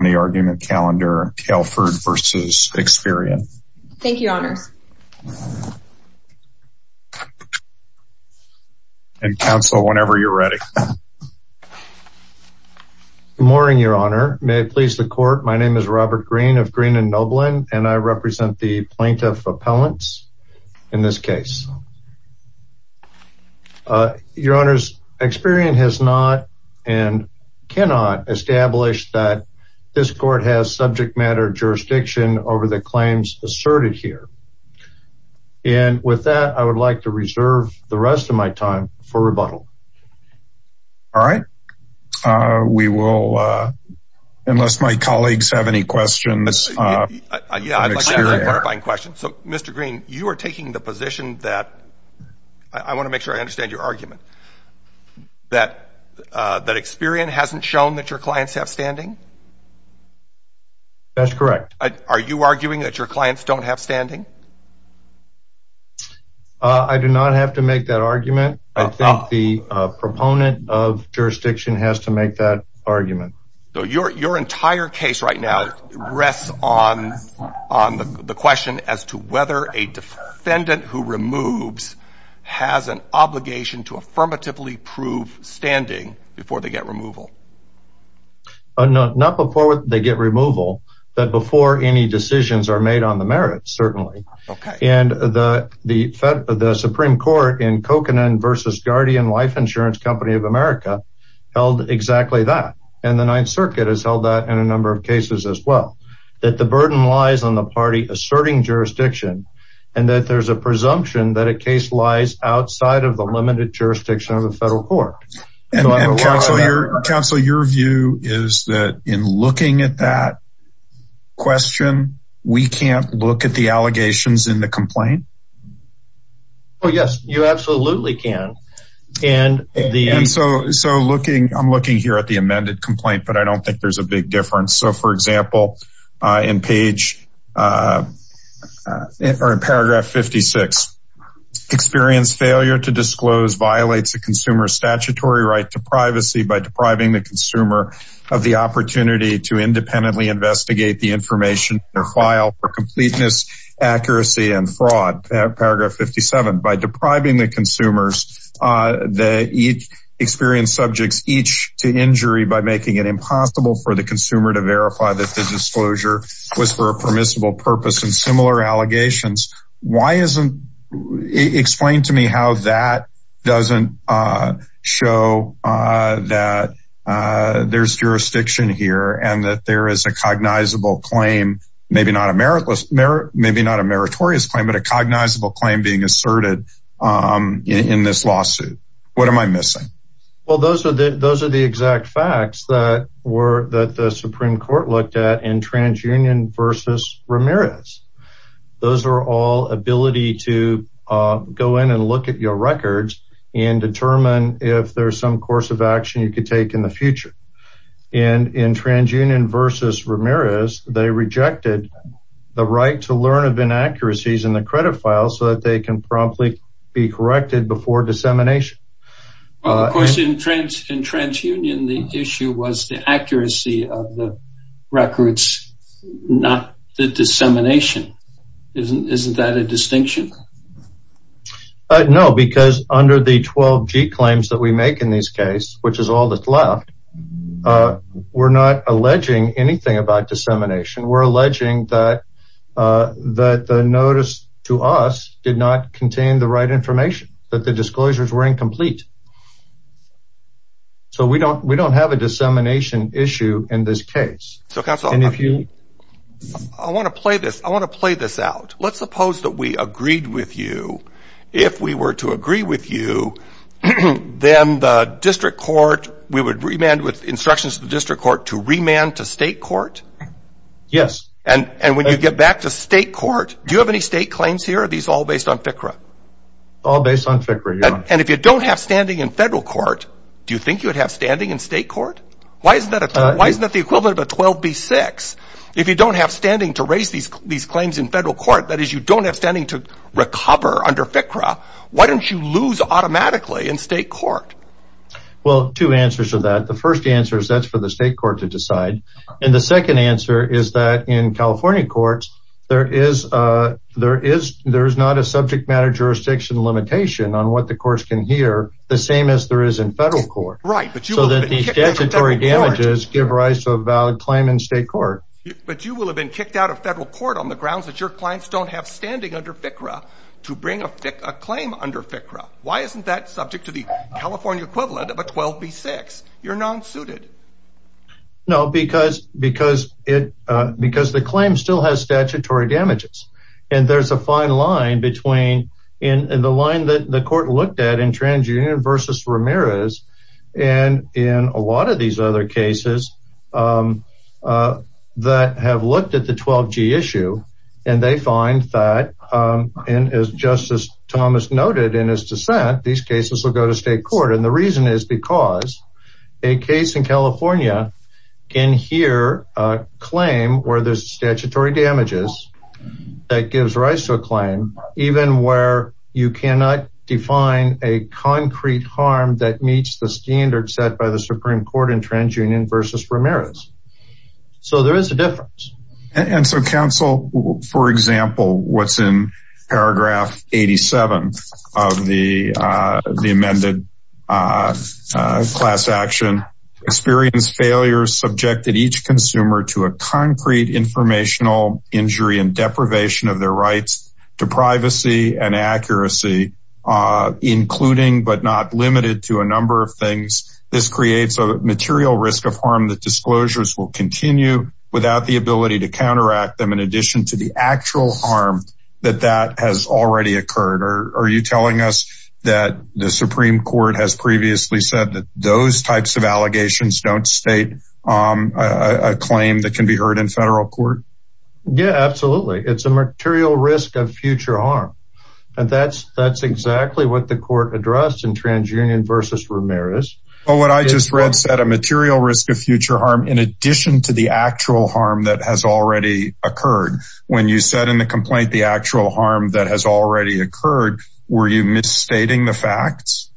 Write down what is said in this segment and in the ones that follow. the argument calendar Telford versus Experian. Thank you, honors. And counsel whenever you're ready. Morning, Your Honor, may it please the court. My name is Robert Green of Green and Noblin and I represent the plaintiff appellants in this case. Your honors, Experian has not and this court has subject matter jurisdiction over the claims asserted here. And with that, I would like to reserve the rest of my time for rebuttal. All right. We will, unless my colleagues have any questions. Yeah, I'd like to clarify a question. So Mr. Green, you are taking the position that I want to make sure I understand your argument that that Experian hasn't shown that your clients have standing. That's correct. Are you arguing that your clients don't have standing? I do not have to make that argument. I think the proponent of jurisdiction has to make that argument. So your your entire case right now rests on on the question as to whether a defendant who removes has an obligation to affirmatively prove standing before they get removal. No, not before they get removal, that before any decisions are made on the merits, certainly. And the the fed, the Supreme Court in Cochran versus Guardian Life Insurance Company of America, held exactly that. And the Ninth Circuit has held that in a number of cases as well, that the burden lies on the party asserting jurisdiction, and that there's a presumption that a case lies outside of the limited jurisdiction of the federal court. And your counsel, your view is that in looking at that question, we can't look at the allegations in the complaint. Oh, yes, you absolutely can. And the so so looking, I'm looking here at the amended complaint, but I don't think there's a big difference. So for example, in page or in paragraph 56, experience failure to disclose violates a statutory right to privacy by depriving the consumer of the opportunity to independently investigate the information or file for completeness, accuracy and fraud. Paragraph 57 by depriving the consumers that each experienced subjects each to injury by making it impossible for the consumer to verify that the disclosure was for a permissible purpose and similar allegations. Why isn't explained to me how that doesn't show that there's jurisdiction here and that there is a cognizable claim, maybe not a meritless merit, maybe not a meritorious claim, but a cognizable claim being asserted in this lawsuit. What am I missing? Well, those are the those are the exact facts that were that the Supreme Court looked at in TransUnion versus Ramirez. Those are all ability to go in and look at your records and determine if there's some course of action you could take in the future. And in TransUnion versus Ramirez, they rejected the right to learn of inaccuracies in the credit file so that they can probably be corrected before dissemination. Of course, in TransUnion, the issue was the accuracy of the records, not the dissemination. Isn't that a distinction? No, because under the 12G claims that we make in this case, which is all that's left, we're not alleging anything about dissemination. We're alleging that the notice to us did not contain the right information, that the disclosures were incomplete. So we don't we don't have a dissemination issue in this case. So counsel, I want to play this, I want to play this out. Let's suppose that we agreed with you, if we were to agree with you, then the district court, we would remand with instructions to the district court to remand to state court? Yes. And when you get back to state court, do you have any state claims here? Are these all based on FCRA? All based on FCRA. And if you don't have standing in federal court, do you think you would have standing in state court? Why isn't that the equivalent of a 12B6? If you don't have standing to raise these claims in federal court, that is you don't have standing to recover under FCRA, why don't you lose automatically in state court? Well, two answers to that. The first answer is that's for the state court to decide. And the second answer is that in California courts, there is a there is there's not a subject matter jurisdiction limitation on what the courts can hear the same as there is in federal court. Right. So that the statutory damages give rise to a valid claim in state court. But you will have been kicked out of federal court on the grounds that your clients don't have standing under FCRA to bring a claim under FCRA. Why isn't that subject to the California equivalent of a 12B6? You're non-suited. No, because because it because the claim still has statutory damages. And there's a fine line between in the line that the court looked at in TransUnion versus Ramirez. And in a lot of these other cases that have looked at the 12G issue, and they find that in as Justice Thomas noted in his dissent, these cases will go to state court. And the reason is because a case in California can hear a claim where there's statutory damages that gives rise to a claim, even where you cannot define a concrete harm that meets the standard set by the TransUnion versus Ramirez. So there is a difference. And so counsel, for example, what's in paragraph 87 of the the amended class action, experienced failures subjected each consumer to a concrete informational injury and deprivation of their rights to privacy and accuracy, including but not limited to a number of things. This creates a material risk of harm that disclosures will continue without the ability to counteract them in addition to the actual harm that that has already occurred. Or are you telling us that the Supreme Court has previously said that those types of allegations don't state a claim that can be heard in federal court? Yeah, absolutely. It's a material risk of future harm. And that's that's exactly what the court addressed in TransUnion versus Ramirez. But what I just read said a material risk of future harm in addition to the actual harm that has already occurred. When you said in the complaint, the actual harm that has already occurred, were you misstating the facts?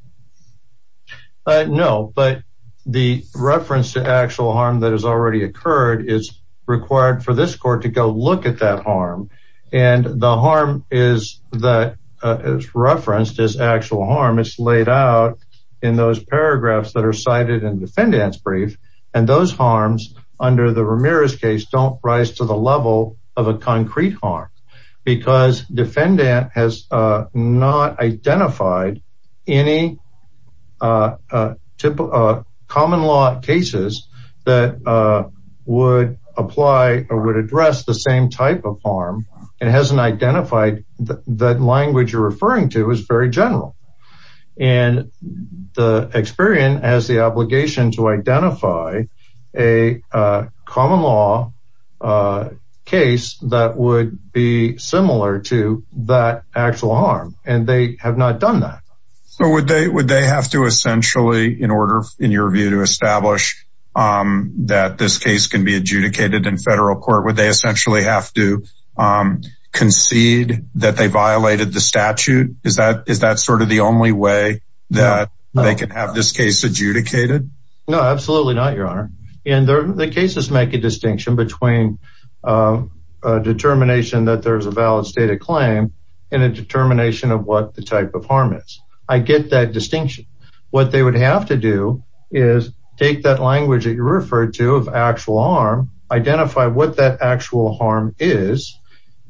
No, but the reference to actual harm that has already occurred is required for this court to go look at that harm. And the harm is that is referenced as actual harm is laid out in those paragraphs that are cited in defendant's brief. And those harms under the Ramirez case don't rise to the level of a concrete harm. Because defendant has not identified any common law cases that would apply or would address the same type of harm and hasn't identified that language you're as the obligation to identify a common law case that would be similar to that actual harm, and they have not done that. So would they would they have to essentially in order in your view to establish that this case can be adjudicated in federal court, would they essentially have to concede that they violated the statute? Is that is that sort of the only way that they can have this case adjudicated? No, absolutely not, Your Honor. And the cases make a distinction between a determination that there's a valid state of claim, and a determination of what the type of harm is, I get that distinction, what they would have to do is take that language that you referred to of actual harm, identify what that actual harm is,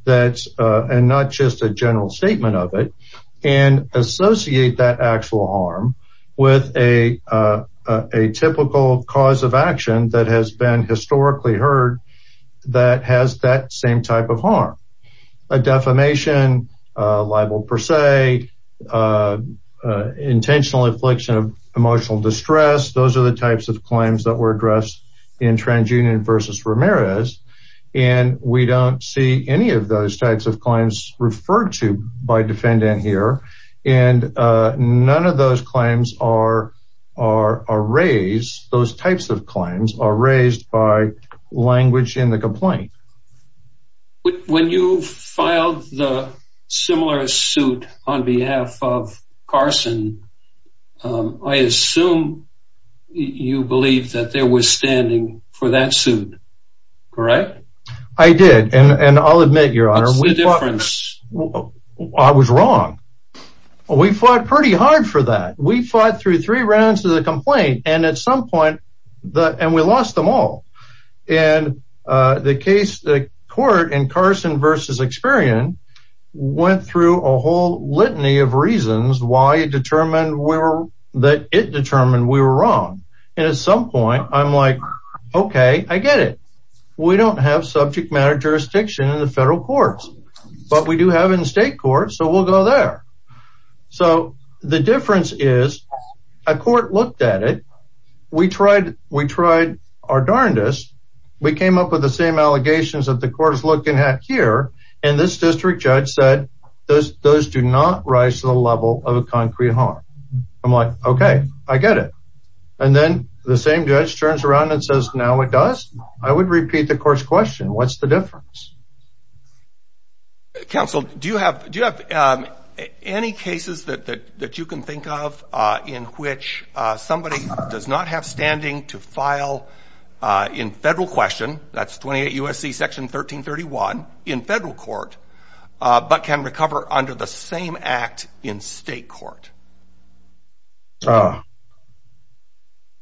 that's, and not just a with a, a typical cause of action that has been historically heard, that has that same type of harm, a defamation, libel per se, intentional affliction of emotional distress, those are the types of claims that were addressed in TransUnion versus Ramirez. And we don't see any of those types of claims referred to by defendant here. And none of those claims are, are raised, those types of claims are raised by language in the complaint. But when you filed the similar suit on behalf of Carson, I assume you believe that there was standing for that suit. Correct? I did. And I'll admit, Your Honor, what's the difference? I was wrong. We fought pretty hard for that. We fought through three rounds of the complaint. And at some point, the and we lost them all. And the case, the court in Carson versus Experian went through a whole litany of reasons why it determined we were that it determined we were wrong. And at some point, I'm like, okay, I get it. We don't have subject matter jurisdiction in the federal courts. But we do have in state court. So we'll go there. So the difference is, a court looked at it. We tried, we tried our darndest, we came up with the same allegations that the court is looking at here. And this district judge said, those those do not rise to the level of a concrete harm. I'm like, okay, I get it. And then the same judge turns around and says, now it does. I would repeat the court's What's the difference? Council, do you have do you have any cases that that you can think of, in which somebody does not have standing to file in federal question, that's 28 USC section 1331 in federal court, but can recover under the same act in state court?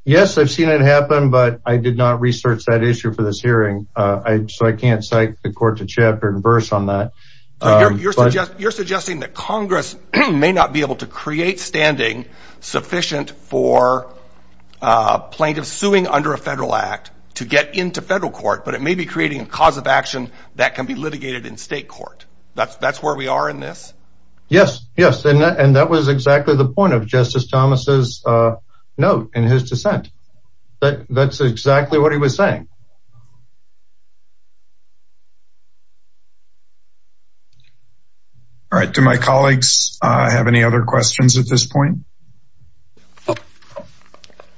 Yes, I've seen it happen. But I did not research that issue for this hearing. I can't cite the court to chapter and verse on that. You're suggesting that Congress may not be able to create standing sufficient for plaintiffs suing under a federal act to get into federal court, but it may be creating a cause of action that can be litigated in state court. That's that's where we are in this. Yes, yes. And that was exactly the point of Justice Thomas's in his dissent. But that's exactly what he was saying. All right, do my colleagues have any other questions at this point?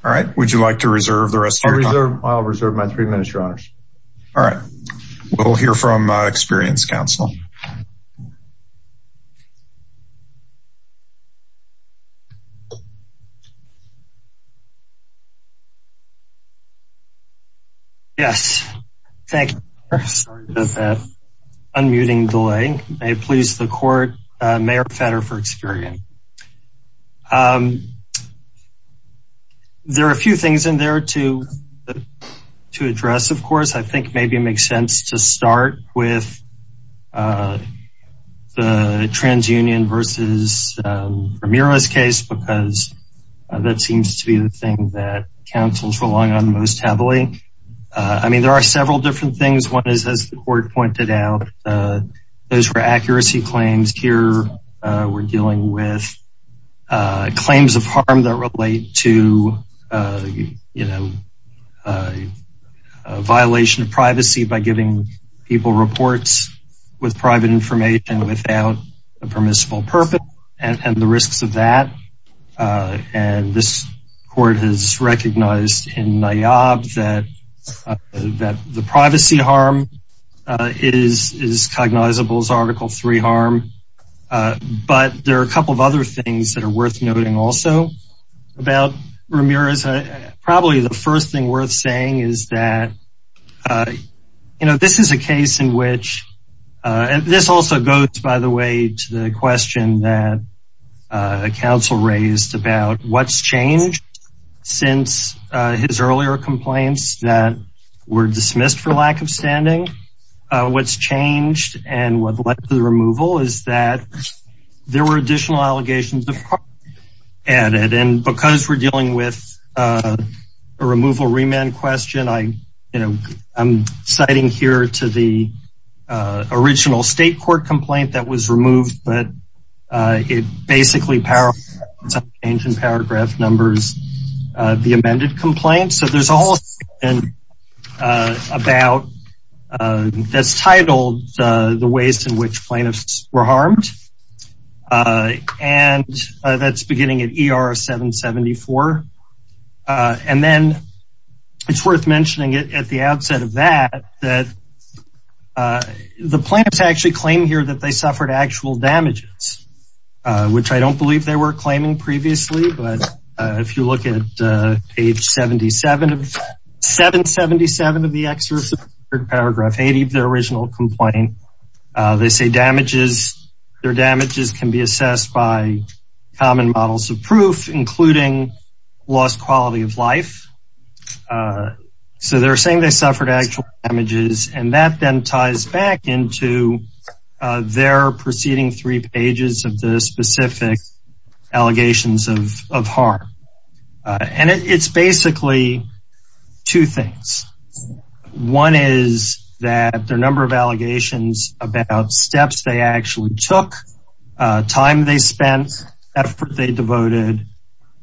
All right, would you like to reserve the rest? I'll reserve my three minutes, your honors. All right. We'll hear from Experience Council. Yes, thank you. Sorry about that. Unmuting delay. May it please the court, Mayor Fetter for Experian. There are a few things in there to to address, of course, I think maybe it makes sense to start with the TransUnion versus Ramirez case, because that seems to be the thing that's going to be the thing that councils rely on most heavily. I mean, there are several different things. One is, as the court pointed out, those were accuracy claims. Here we're dealing with claims of harm that relate to, you know, a violation of privacy by giving people reports with private information without a recognized in my job that that the privacy harm is is cognizable as Article three harm. But there are a couple of other things that are worth noting also about Ramirez. Probably the first thing worth saying is that, you know, this is a case in which this also goes, by the way, to the question that council raised about what's changed since his earlier complaints that were dismissed for lack of standing. What's changed and what the removal is that there were additional allegations added. And because we're dealing with a removal remand question, I, you know, I'm citing here to the original state court complaint that was removed, but it basically power, ancient paragraph numbers, the amended complaint. So there's a whole thing about this title, the ways in which plaintiffs were harmed. And that's beginning at ER 774. And then it's worth mentioning it at the outset of that, that the plaintiffs actually claim here that they suffered actual damages, which I don't believe they were claiming previously. But if you look at page 77 of 777 of the excerpt, paragraph 80, their original complaint, they say damages, their damages can be assessed by common models of proof, including lost quality of life. So they're saying they suffered actual damages. And that then ties back into their preceding three pages of the specific allegations of, of harm. And it's basically two things. One is that their number of allegations about steps they actually took, time they spent, effort they devoted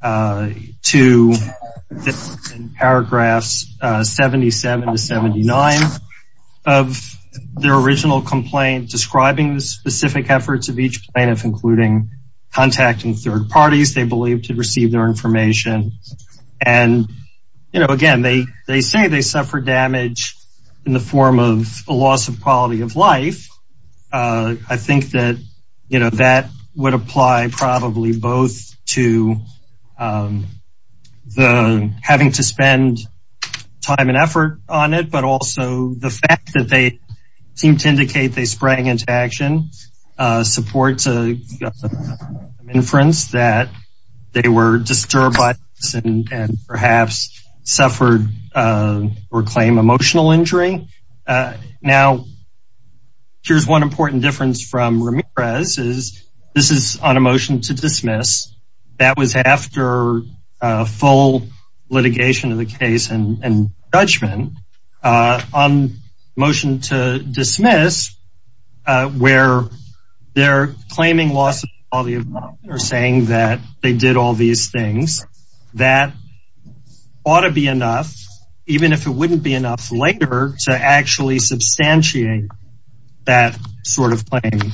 to paragraphs 77 to 79 of their original complaint, describing the specific efforts of each plaintiff, including contacting third parties, they believe to receive their information. And, you know, again, they, they say they suffer damage in the form of a loss of quality of life. I think that, you know, that would apply probably both to the having to spend time and effort on it, but also the fact that they seem to indicate they sprang into action, support to inference that they were disturbed by and perhaps suffered or claim emotional injury. Now, here's one important difference from Ramirez is this is on a motion to dismiss. That was after a full litigation of the case and judgment on motion to dismiss, where they're claiming loss of quality of life. They're saying that they did all these things that ought to be enough, even if it wouldn't be enough later to actually substantiate that sort of claim.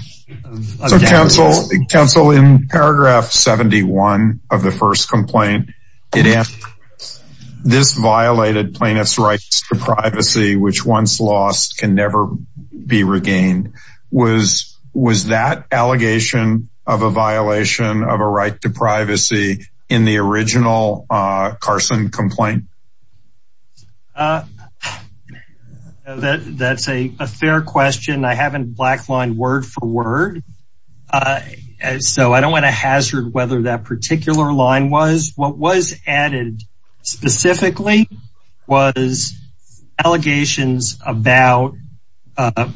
So counsel in paragraph 71 of the first complaint, this violated plaintiff's rights to privacy, which once lost can never be regained. Was that allegation of a violation of a right to privacy in the original Carson complaint? That's a fair question. I haven't blacklined word for word. So I don't want to hazard whether that particular line was what was added, specifically, was allegations about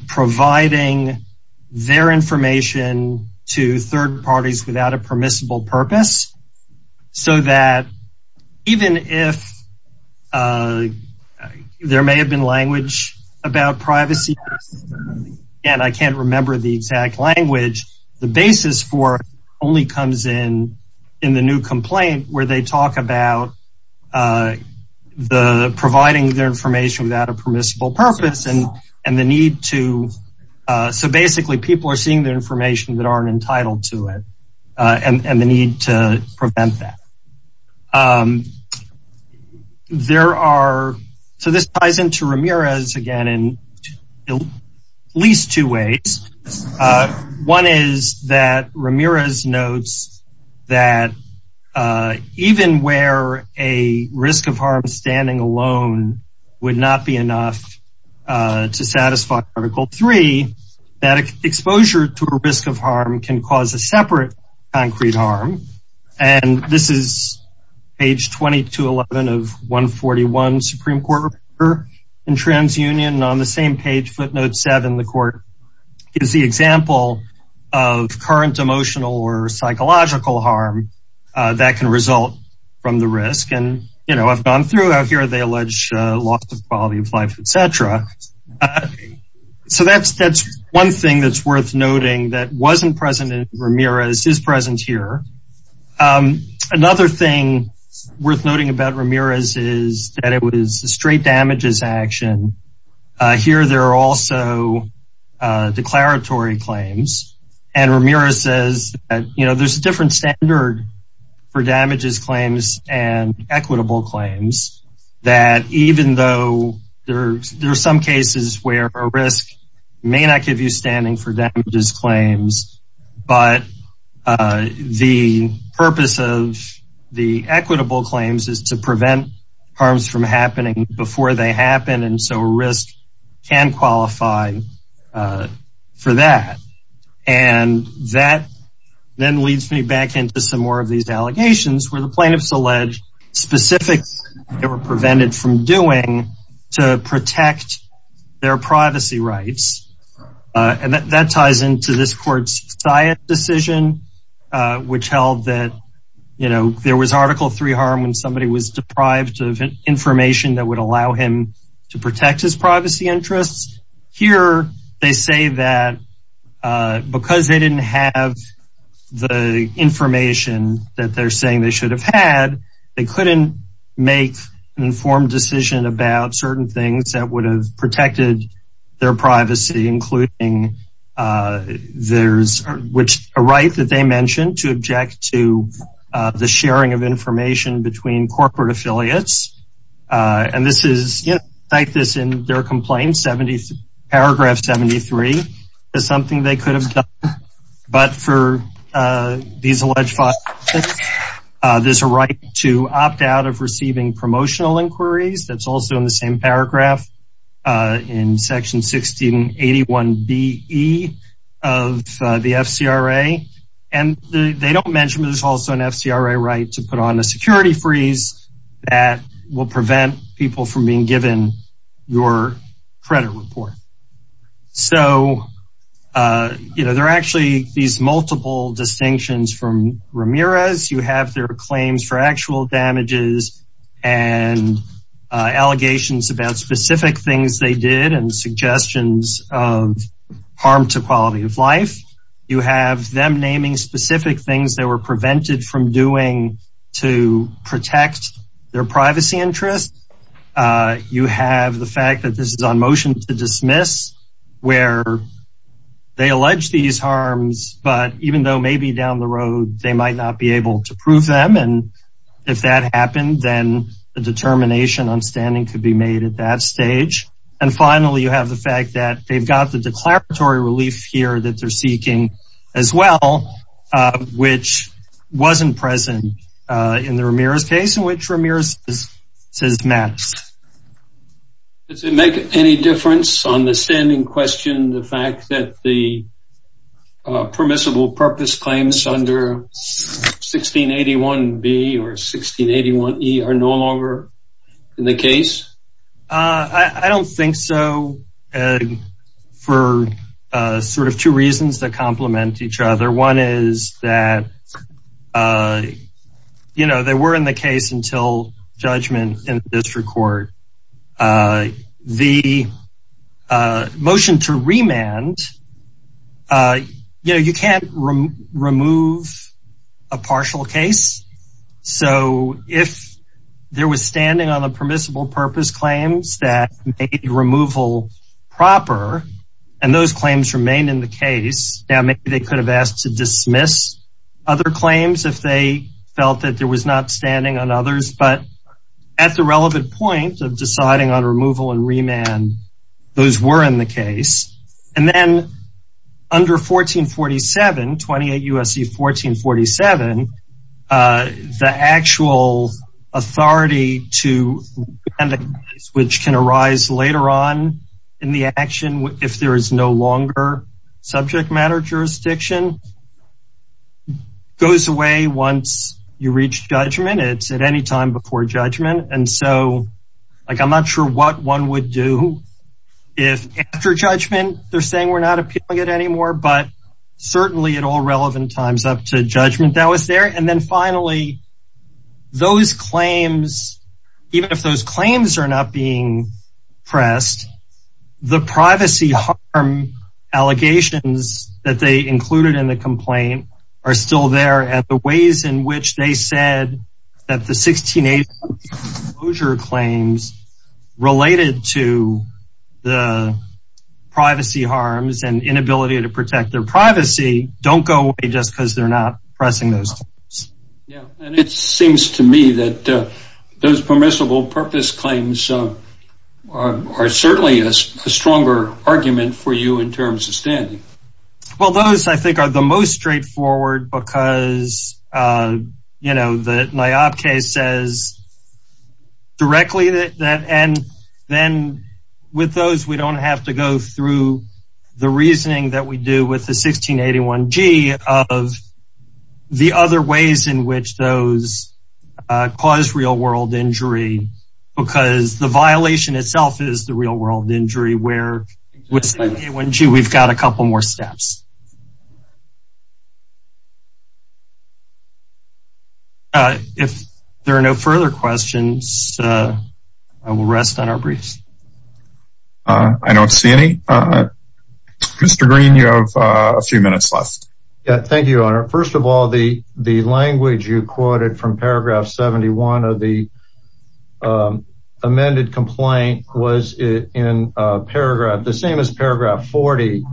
providing their information to third parties without a permissible purpose. So that even if there may have been language about privacy, and I can't remember the exact language, the basis for only comes in, in the new complaint where they talk about the providing their information without a permissible purpose and, and the need to. So basically, people are seeing the information that aren't entitled to it, and the need to prevent that. There are, so this ties into Ramirez again, in at least two ways. One is that Ramirez notes that even where a risk of harm standing alone would not be enough to satisfy article three, that exposure to a risk of harm can cause a separate concrete harm. And this is page 2211 of 141 Supreme Court in Trans Union on the same page footnote seven, the court is the example of current emotional or psychological harm that can result from the risk and you know, I've gone through out here, they allege loss of quality of life, etc. So that's that's one thing that's worth noting that wasn't present in Ramirez is present here. Another thing worth noting about Ramirez is that it was straight damages action. Here, there are also declaratory claims. And Ramirez says that, you know, there's a different standard for damages claims and equitable claims that even though there are some cases where a risk may not give you standing for damages claims, but the purpose of the equitable claims is to prevent harms from happening before they happen. And so risk can qualify for that. And that then leads me back into some more of these allegations where the plaintiffs allege specifics that were prevented from doing to protect their privacy rights. And that ties into this court's science decision, which held that, you know, there was Article Three harm when somebody was deprived of information that would allow him to protect his privacy interests. Here, they say that because they didn't have the information that they're saying they should have had, they couldn't make an certain things that would have protected their privacy, including there's a right that they mentioned to object to the sharing of information between corporate affiliates. And this is like this in their complaint. Paragraph 73 is something they could have done. But for these alleged violations, there's a right to opt out of receiving promotional inquiries. That's also in the same paragraph in Section 1681 B E of the FCRA. And they don't mention that there's also an FCRA right to put on a security freeze that will prevent people from being given your credit report. So, you know, there are actually these multiple distinctions from Ramirez, you have their claims for actual damages, and allegations about specific things they did and suggestions of harm to quality of life. You have them naming specific things that were prevented from doing to protect their privacy interests. You have the fact that this is on motion to dismiss, where they allege these harms, but even though maybe down the road, they might not be able to prove them. And if that happened, then the determination on standing could be made at that stage. And finally, you have the fact that they've got the declaratory relief here that they're seeking, as well, which wasn't present in the Ramirez case in which Ramirez says matters. Does it make any difference on the standing question, the fact that the permissible purpose claims under 1681B or 1681E are no longer in the case? I don't think so. For sort of two reasons that complement each other. One is that, you know, they were in the case until judgment in district court. The motion to remand, you know, you can't remove a partial case. So if there was standing on a permissible purpose claims that made removal proper, and those claims remain in the case, now maybe they could have asked to dismiss other claims if they felt that there was not standing on others. But at the relevant point of deciding on removal and remand, those were in the case. And then under 1447, 28 U.S.C. 1447, the actual authority to which can arise later on in the action if there is no longer subject matter jurisdiction goes away once you reach judgment, it's at any time before judgment. And so, like, I'm not sure what one would do if after judgment, they're saying we're not appealing it anymore. But certainly at all relevant times up to judgment that was there. And then finally, those claims, even if those claims are not being pressed, the privacy harm allegations that they included in the complaint are still there at the ways in which they said that the 1680 exposure claims related to the privacy harms and inability to protect their privacy don't go away just because they're not pressing those. Yeah, and it seems to me that those permissible purpose claims are certainly a stronger argument for you in terms of standing. Well, those, I think, are the most straightforward because, you know, the NIOP case says directly that. And then with those, we don't have to go through the reasoning that we do with the 1681G of the other ways in which those cause real world injury, because the violation itself is the real world injury where with 1681G, we've got a couple more steps. If there are no further questions, I will rest on our briefs. I don't see any. Mr. Green, you have a few minutes left. Thank you, your honor. First of all, the the language you quoted from paragraph 71 of the amended complaint was in paragraph, the same as paragraph 40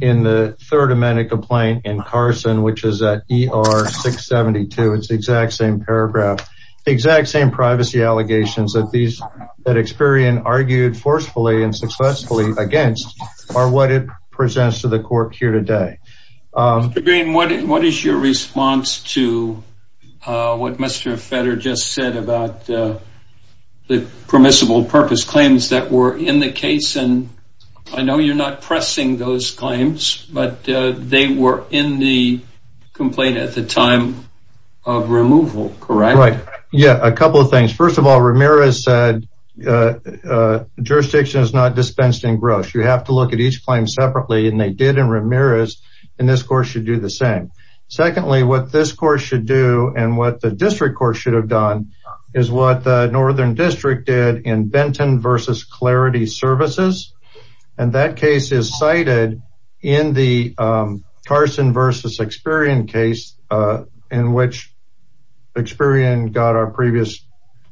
in the third amended complaint in Carson, which is at ER 672, it's the exact same paragraph, exact same privacy allegations that Experian argued forcefully and successfully against are what it presents to the court here today. Mr. Green, what is your response to what Mr. Fetter just said about the permissible purpose claims that were in the case? And I know you're not pressing those claims, but they were in the complaint at the time of removal, correct? Yeah, a couple of things. First of all, Ramirez said jurisdiction is not dispensed in gross. You have to look at each claim separately. And they did in Ramirez. And this court should do the same. Secondly, what this court should do and what the district court should have done is what the Northern District did in Benton versus Clarity Services. And that case is cited in the Carson versus Experian case in which Experian got our previous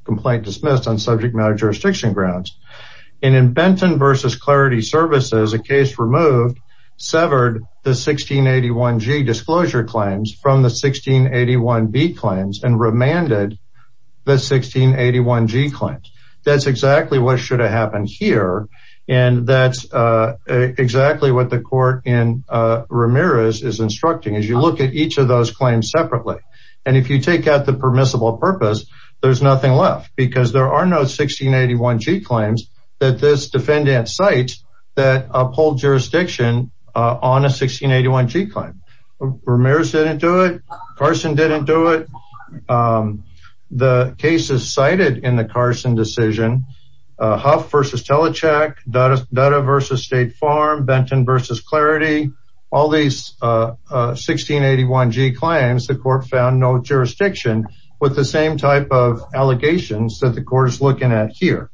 complaint dismissed on subject matter jurisdiction grounds. And in Benton versus Clarity Services, a case removed severed the 1681G disclosure claims from the 1681B claims and remanded the 1681G claims. That's exactly what should have happened here. And that's exactly what the court in Ramirez is instructing. As you look at each of those claims separately and if you take out the permissible purpose, there's nothing left because there are no 1681G claims that this defendant cites that uphold jurisdiction on a 1681G claim. Ramirez didn't do it. Carson didn't do it. The case is cited in the Carson decision. Huff versus Telecheck, Dutta versus State Farm, Benton versus Clarity. All these 1681G claims, the court found no jurisdiction with the same type of allegations that the court is looking at here.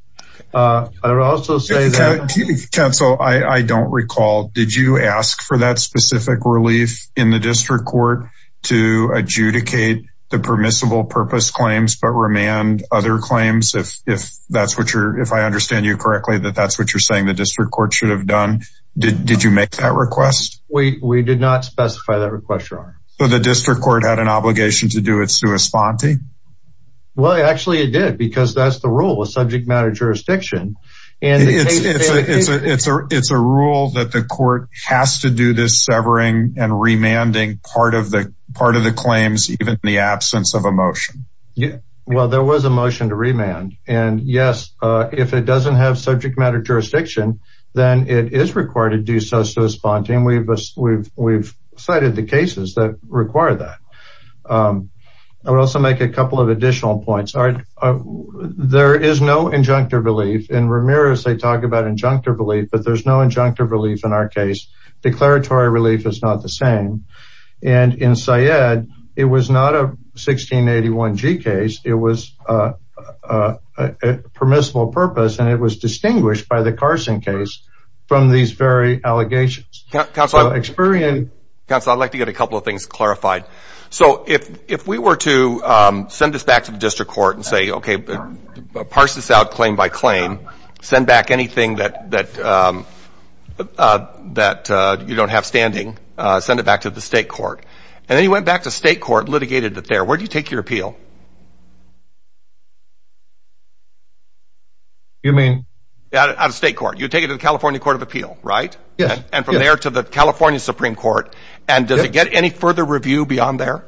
I would also say that- Counsel, I don't recall. Did you ask for that specific relief in the district court to adjudicate the permissible purpose claims, but remand other claims? If that's what you're, if I understand you correctly, that that's what you're saying the district court should have done. Did you make that request? We did not specify that request, Your Honor. So the district court had an obligation to do it sui sponte? Well, actually, it did, because that's the rule. It's subject matter jurisdiction. And it's a rule that the court has to do this severing and remanding part of the part of the claims, even in the absence of a motion. Yeah, well, there was a motion to remand. And yes, if it doesn't have subject matter jurisdiction, then it is required to do so sui sponte. And we've cited the cases that require that. I would also make a couple of additional points. All right. There is no injunctive relief in Ramirez. They talk about injunctive relief, but there's no injunctive relief in our case. Declaratory relief is not the same. And in Syed, it was not a 1681 G case. It was a permissible purpose. And it was distinguished by the Carson case from these very allegations. Counselor, I'm experienced. Counsel, I'd like to get a couple of things clarified. So if if we were to send this back to the district court and say, OK, parse this out claim by claim, send back anything that that that you don't have standing, send it back to the state court. And then you went back to state court, litigated it there. Where do you take your appeal? You mean out of state court, you take it to the California Court of Appeal, right? Yeah. And from there to the California Supreme Court. And does it get any further review beyond there?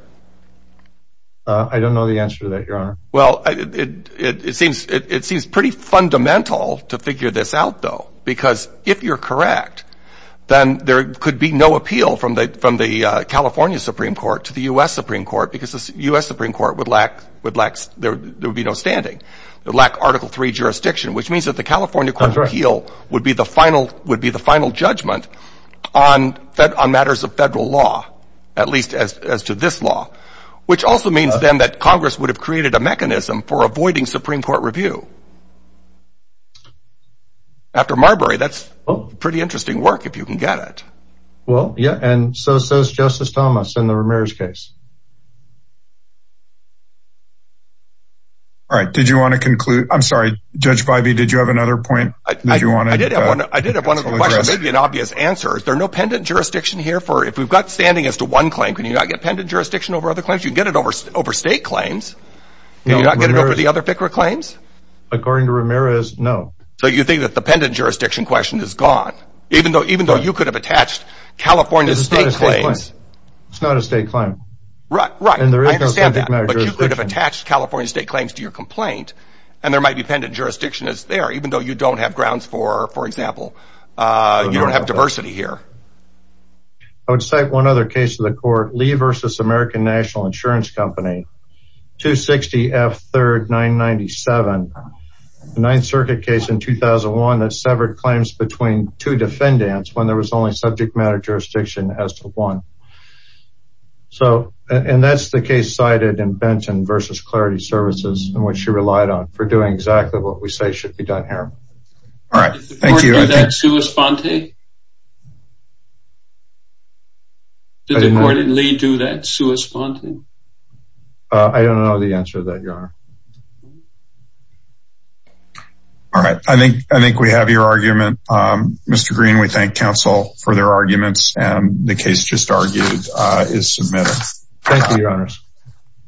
I don't know the answer to that, Your Honor. Well, it seems it seems pretty fundamental to figure this out, though, because if you're correct, then there could be no appeal from the from the California Supreme Court to the U.S. Supreme Court, because the U.S. Supreme Court would lack would lack. There would be no standing. They lack Article three jurisdiction, which means that the California Court of Appeal would be the final would be the final judgment on that on matters of federal law, at least as to this law, which also means, then, that Congress would have created a mechanism for avoiding Supreme Court review. After Marbury, that's pretty interesting work, if you can get it. Well, yeah. And so says Justice Thomas in the Ramirez case. All right. Did you want to conclude? I'm sorry, Judge Bivey, did you have another point that you want? I did have one of the questions, maybe an obvious answer. Is there no pendant jurisdiction here for if we've got standing as to one claim? Can you not get pendant jurisdiction over other claims? You get it over over state claims. You're not going to go for the other FICRA claims. According to Ramirez, no. So you think that the pendant jurisdiction question is gone, even though even though you could have attached California state claims? It's not a state claim. Right, right. And there is no standard measure, but you could have attached California state claims to your complaint. And there might be pendant jurisdiction is there, even though you don't have grounds for, for example, you don't have diversity here. I would say one other case of the court, Lee versus American National Insurance Company, 260 F. Third, 997, the Ninth Circuit case in 2001 that severed claims between two defendants when there was only subject matter jurisdiction as to one. So and that's the case cited in Benton versus Clarity Services and what she relied on for doing exactly what we say should be done here. All right. Thank you. Did the court do that sui sponte? Did the court and Lee do that sui sponte? I don't know the answer to that, Your Honor. All right. I think I think we have your argument. Mr. Green, we thank counsel for their arguments. And the case just argued is submitted. Thank you, Your Honors.